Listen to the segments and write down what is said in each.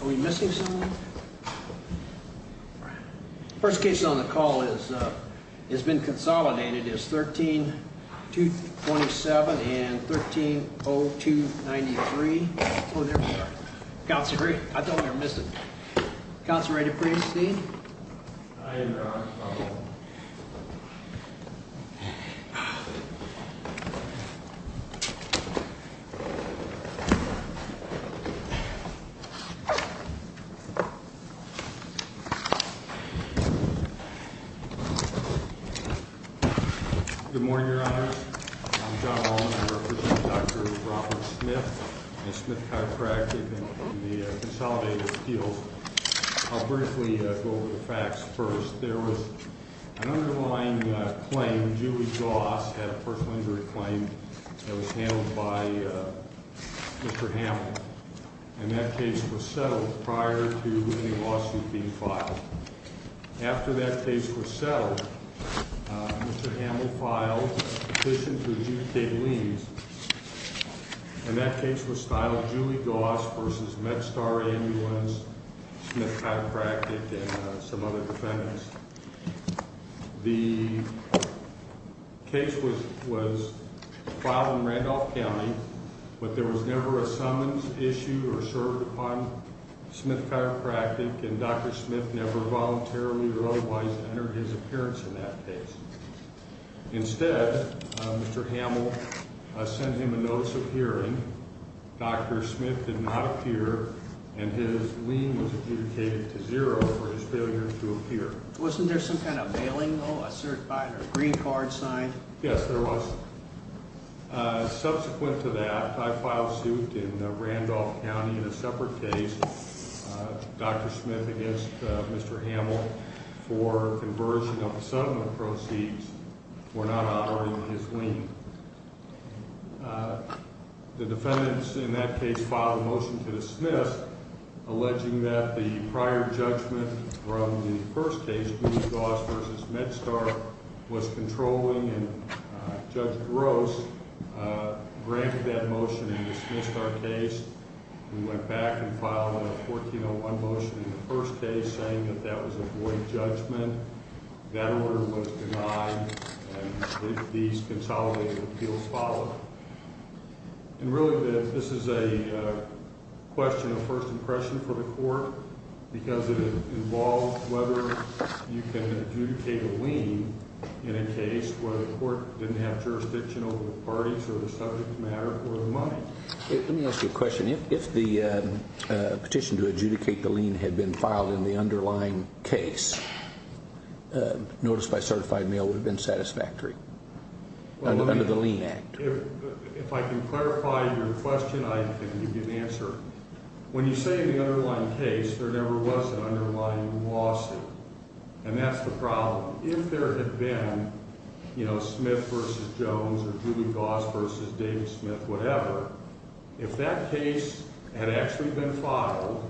Are we missing someone? First case on the call has been consolidated as 13-227 and 13-0293. Oh, there we are. Councilor Gray, I thought we were missing. Councilor, are you ready to proceed? I am, Your Honor. Good morning, Your Honors. I'm John Wallen. I represent Dr. Robert Smith and Smith Chiropractic in the consolidated appeals. I'll briefly go over the facts first. There was an underlying claim. Julie Goss had a first-degree claim that was handled by Mr. Hammel. And that case was settled prior to any lawsuit being filed. After that case was settled, Mr. Hammel filed petition to adjudicate liens. And that case was filed. Julie Goss v. MedStar Ambulance, Smith Chiropractic, and some other defendants. The case was filed in Randolph County, but there was never a summons issued or served upon Smith Chiropractic. And Dr. Smith never voluntarily or otherwise entered his appearance in that case. Instead, Mr. Hammel sent him a notice of hearing. Dr. Smith did not appear. And his lien was adjudicated to zero for his failure to appear. Wasn't there some kind of bailing, though? A certified or green card signed? Yes, there was. Subsequent to that, I filed suit in Randolph County in a separate case. Dr. Smith against Mr. Hammel for conversion of the settlement proceeds for not honoring his lien. The defendants in that case filed a motion to dismiss, alleging that the prior judgment from the first case, Julie Goss v. MedStar, was controlling and Judge Gross granted that motion and dismissed our case. We went back and filed a 1401 motion in the first case saying that that was a void judgment. That order was denied, and these consolidated appeals followed. And really, this is a question of first impression for the court because it involves whether you can adjudicate a lien in a case where the court didn't have jurisdiction over the parties or the subject matter for the money. Let me ask you a question. If the petition to adjudicate the lien had been filed in the underlying case, notice by certified mail would have been satisfactory under the lien act. If I can clarify your question, I can give you an answer. When you say the underlying case, there never was an underlying lawsuit, and that's the problem. If there had been Smith v. Jones or Julie Goss v. David Smith, whatever, if that case had actually been filed,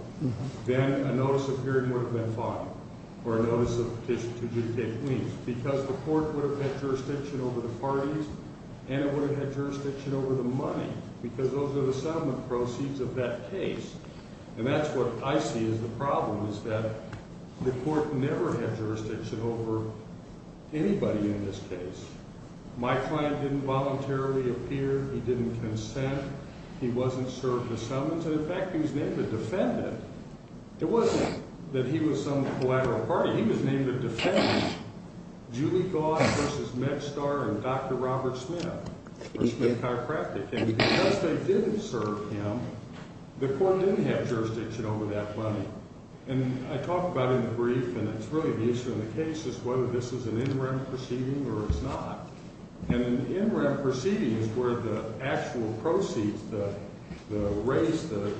then a notice of hearing would have been fine or a notice of petition to adjudicate liens because the court would have had jurisdiction over the parties and it would have had jurisdiction over the money because those are the settlement proceeds of that case. And that's what I see as the problem is that the court never had jurisdiction over anybody in this case. My client didn't voluntarily appear. He didn't consent. He wasn't served a summons. And in fact, he was named a defendant. It wasn't that he was some collateral party. He was named a defendant. Julie Goss v. MedStar and Dr. Robert Smith or Smith Chiropractic. And because they didn't serve him, the court didn't have jurisdiction over that money. And I talked about it in the brief, and it's really the issue in the case is whether this is an in-ramp proceeding or it's not. And an in-ramp proceeding is where the actual proceeds, the race, the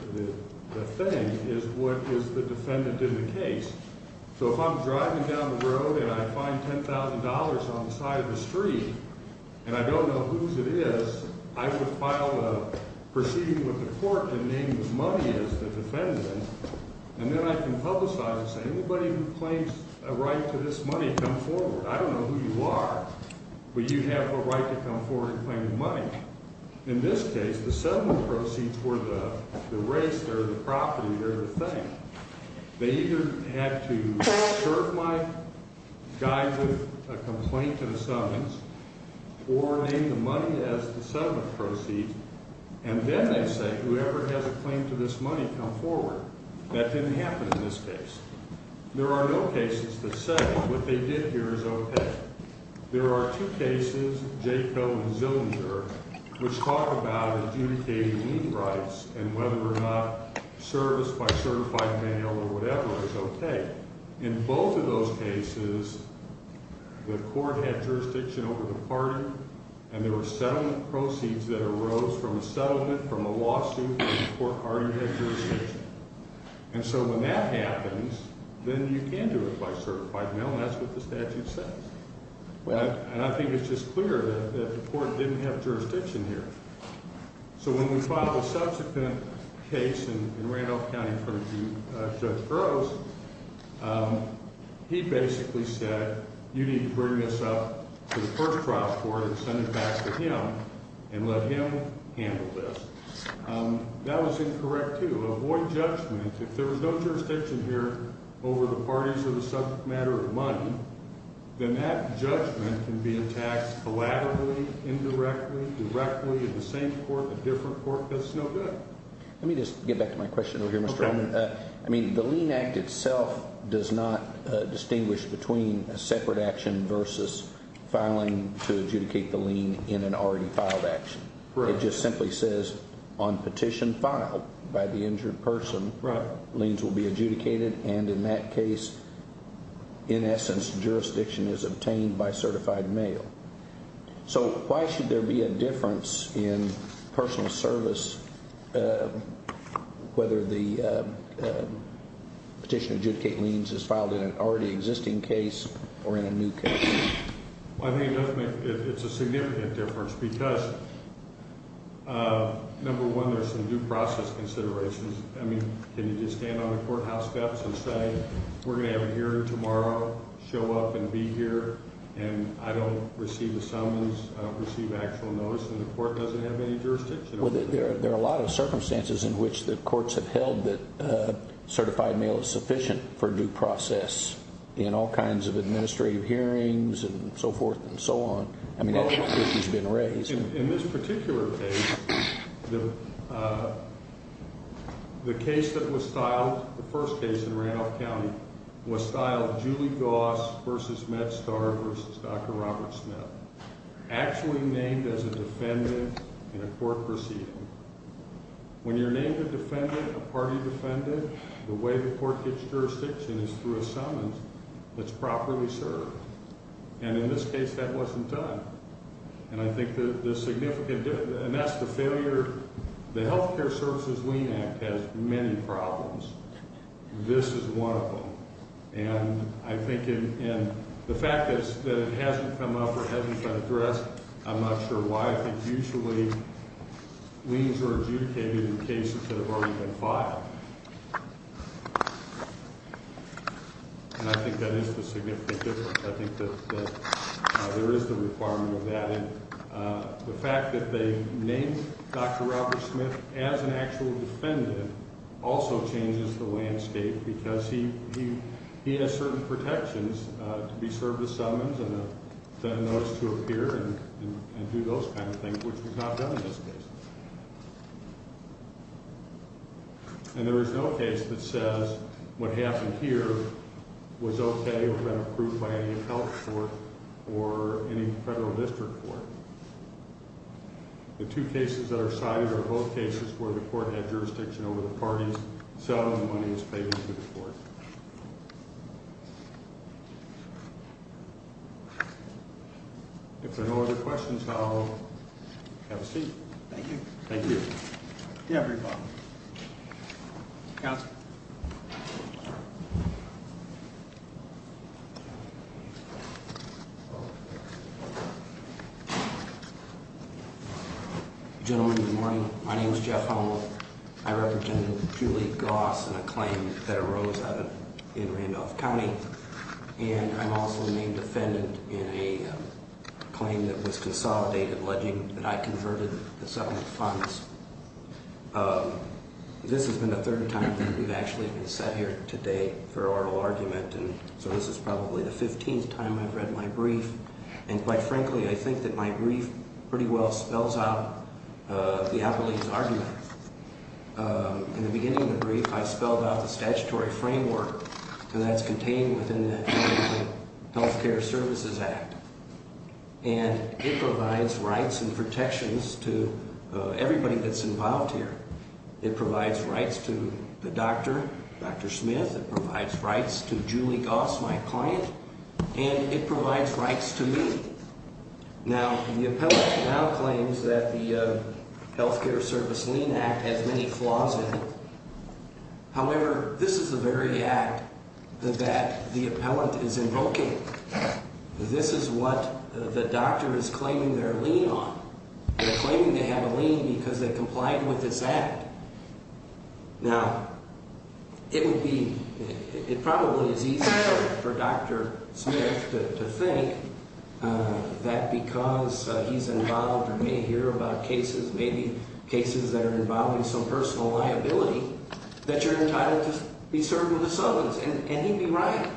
thing, is what is the defendant in the case. So if I'm driving down the road and I find $10,000 on the side of the street and I don't know whose it is, I would file a proceeding with the court to name the money as the defendant, and then I can publicize it and say anybody who claims a right to this money come forward. I don't know who you are, but you have a right to come forward and claim the money. In this case, the settlement proceeds were the race, they're the property, they're the thing. They either had to serve my guy with a complaint and a summons or name the money as the settlement proceeds, and then they say whoever has a claim to this money come forward. That didn't happen in this case. There are no cases that say what they did here is okay. There are two cases, Jacob and Zillinger, which talk about adjudicating lien rights and whether or not service by certified mail or whatever is okay. In both of those cases, the court had jurisdiction over the party, and there were settlement proceeds that arose from a settlement from a lawsuit where the court already had jurisdiction. And so when that happens, then you can do it by certified mail, and that's what the statute says. And I think it's just clear that the court didn't have jurisdiction here. So when we filed a subsequent case in Randolph County in front of Judge Burroughs, he basically said you need to bring this up to the first trial court and send it back to him and let him handle this. That was incorrect, too. Avoid judgment. If there was no jurisdiction here over the parties or the subject matter of money, then that judgment can be attacked collaterally, indirectly, directly at the same court, a different court. That's no good. Let me just get back to my question over here, Mr. Oman. Okay. I mean, the lien act itself does not distinguish between a separate action versus filing to adjudicate the lien in an already filed action. Correct. It just simply says on petition filed by the injured person, liens will be adjudicated, and in that case, in essence, jurisdiction is obtained by certified mail. So why should there be a difference in personal service whether the petition to adjudicate liens is filed in an already existing case or in a new case? I think it's a significant difference because, number one, there's some due process considerations. I mean, can you just stand on the courthouse steps and say we're going to have a hearing tomorrow, show up and be here, and I don't receive a summons, I don't receive actual notice, and the court doesn't have any jurisdiction? Well, there are a lot of circumstances in which the courts have held that certified mail is sufficient for due process in all kinds of administrative hearings and so forth and so on. I mean, I think the issue's been raised. In this particular case, the case that was filed, the first case in Randolph County, was filed Julie Goss versus Matt Starr versus Dr. Robert Smith, actually named as a defendant in a court proceeding. When you're named a defendant, a party defendant, the way the court gets jurisdiction is through a summons that's properly served. And in this case, that wasn't done. And I think the significant difference, and that's the failure, the Healthcare Services Lien Act has many problems. This is one of them. And I think in the fact that it hasn't come up or hasn't been addressed, I'm not sure why. I think usually liens are adjudicated in cases that have already been filed. And I think that is the significant difference. I think that there is the requirement of that. And the fact that they named Dr. Robert Smith as an actual defendant also changes the landscape because he has certain protections to be served a summons and a notice to appear and do those kind of things, which was not done in this case. And there is no case that says what happened here was okay or been approved by any health court or any federal district court. The two cases that are cited are both cases where the court had jurisdiction over the parties selling the monies paid into the court. If there are no other questions, I'll have a seat. Thank you. Thank you. Counsel. Gentlemen, good morning. My name is Jeff Hummel. I represent Julie Goss in a claim that arose in Randolph County. And I'm also a named defendant in a claim that was consolidated, alleging that I converted the settlement funds. This has been the third time that we've actually been sat here today for oral argument. And so this is probably the 15th time I've read my brief. And quite frankly, I think that my brief pretty well spells out the appellee's argument. In the beginning of the brief, I spelled out the statutory framework, and that's contained within the Health Care Services Act. And it provides rights and protections to everybody that's involved here. It provides rights to the doctor, Dr. Smith. It provides rights to Julie Goss, my client. And it provides rights to me. Now, the appellant now claims that the Health Care Services Lien Act has many flaws in it. However, this is the very act that the appellant is invoking. This is what the doctor is claiming their lien on. They're claiming they have a lien because they complied with this act. Now, it would be – it probably is easier for Dr. Smith to think that because he's involved or may hear about cases, maybe cases that are involving some personal liability, that you're entitled to be served with a sentence. And he'd be right.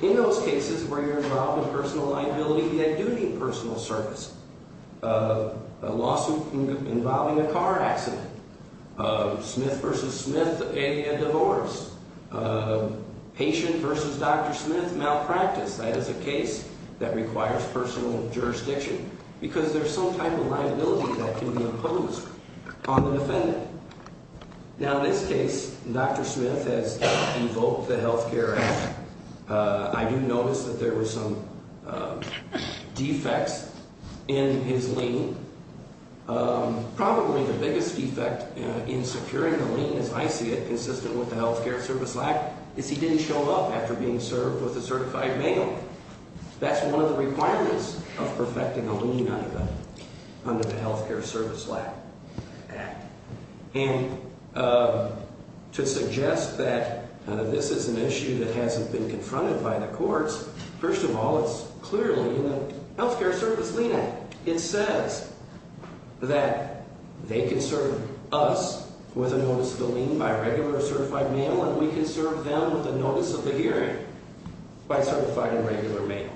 In those cases where you're involved in personal liability, he had duty and personal service. A lawsuit involving a car accident. Smith v. Smith and a divorce. Patient v. Dr. Smith malpractice. That is a case that requires personal jurisdiction because there's some type of liability that can be imposed on the defendant. Now, in this case, Dr. Smith has invoked the Health Care Act. I do notice that there were some defects in his lien. Probably the biggest defect in securing a lien, as I see it, consistent with the Health Care Service Act, is he didn't show up after being served with a certified bail. That's one of the requirements of perfecting a lien under the Health Care Service Act. And to suggest that this is an issue that hasn't been confronted by the courts, first of all, it's clearly in the Health Care Service lien act. It says that they can serve us with a notice of the lien by regular or certified mail, and we can serve them with a notice of the hearing by certified and regular mail.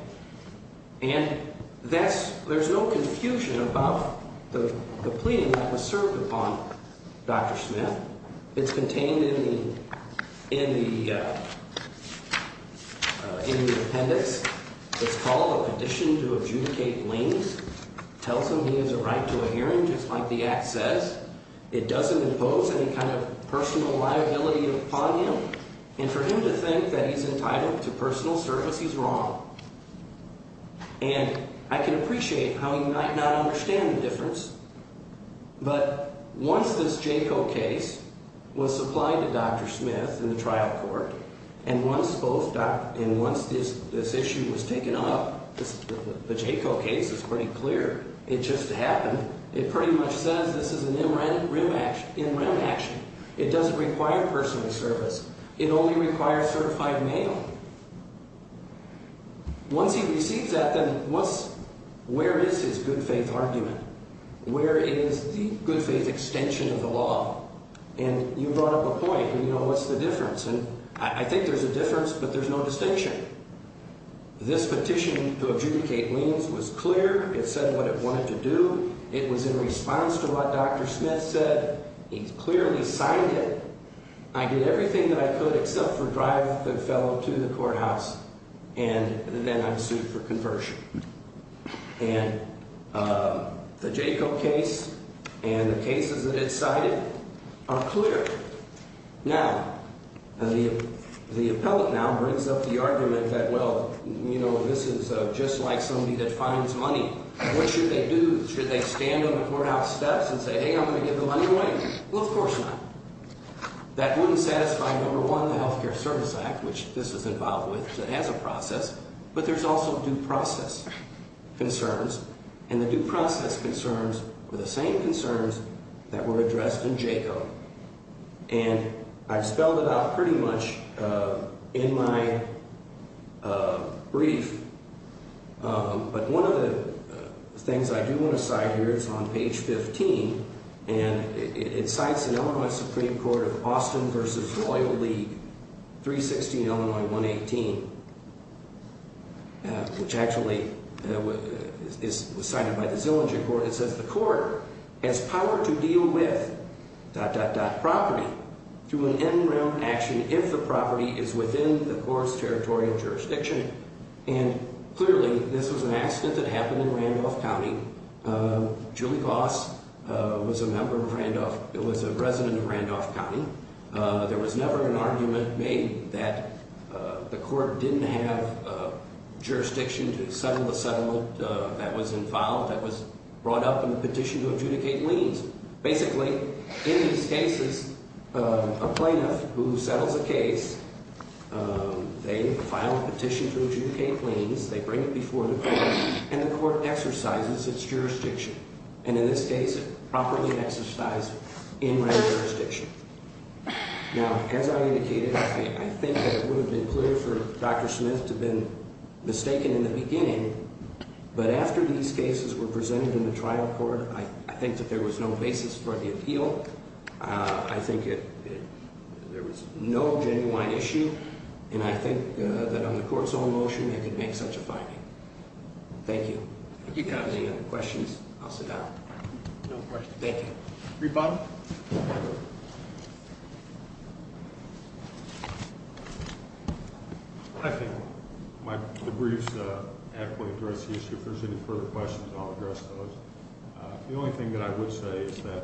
And there's no confusion about the plea that was served upon Dr. Smith. It's contained in the appendix. It's called a condition to adjudicate liens. It tells him he has a right to a hearing, just like the act says. It doesn't impose any kind of personal liability upon him. And for him to think that he's entitled to personal service, he's wrong. And I can appreciate how he might not understand the difference, but once this JACO case was supplied to Dr. Smith in the trial court, and once this issue was taken up, the JACO case is pretty clear. It just happened. It pretty much says this is an in rem action. It doesn't require personal service. It only requires certified mail. Once he receives that, then where is his good faith argument? Where is the good faith extension of the law? And you brought up a point, you know, what's the difference? And I think there's a difference, but there's no distinction. This petition to adjudicate liens was clear. It said what it wanted to do. It was in response to what Dr. Smith said. He clearly signed it. I did everything that I could except for drive the fellow to the courthouse, and then I'm sued for conversion. And the JACO case and the cases that it cited are clear. Now, the appellate now brings up the argument that, well, you know, this is just like somebody that finds money. What should they do? Should they stand on the courthouse steps and say, hey, I'm going to give the money away? Well, of course not. That wouldn't satisfy, number one, the Health Care Service Act, which this was involved with, so it has a process. But there's also due process concerns, and the due process concerns were the same concerns that were addressed in JACO. And I've spelled it out pretty much in my brief, but one of the things I do want to cite here is on page 15, and it cites an Illinois Supreme Court of Austin v. Royal League, 316 Illinois 118, which actually was cited by the Zillinger Court. It says the court has power to deal with …property through an in-room action if the property is within the court's territorial jurisdiction. And clearly this was an accident that happened in Randolph County. Julie Goss was a resident of Randolph County. There was never an argument made that the court didn't have jurisdiction to settle the settlement that was involved, that was brought up in the petition to adjudicate liens. Basically, in these cases, a plaintiff who settles a case, they file a petition to adjudicate liens, they bring it before the court, and the court exercises its jurisdiction. And in this case, it properly exercised in-room jurisdiction. Now, as I indicated, I think that it would have been clear for Dr. Smith to have been mistaken in the beginning, but after these cases were presented in the trial court, I think that there was no basis for the appeal. I think there was no genuine issue, and I think that on the court's own motion, they could make such a finding. Thank you. If you have any other questions, I'll sit down. No questions. Thank you. Rebuttal? I think the briefs adequately address the issue. If there's any further questions, I'll address those. The only thing that I would say is that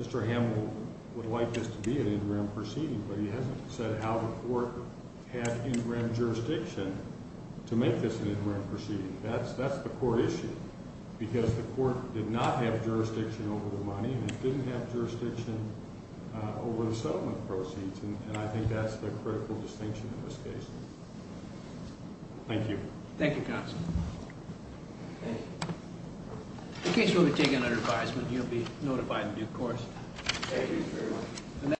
Mr. Hamill would like this to be an in-room proceeding, but he hasn't said how the court had in-room jurisdiction to make this an in-room proceeding. That's the court issue, because the court did not have jurisdiction over the money, and it didn't have jurisdiction over the settlement proceeds, and I think that's the critical distinction in this case. Thank you. Thank you, counsel. Thank you. In case you want to take another advisement, you'll be notified in due course. Thank you very much.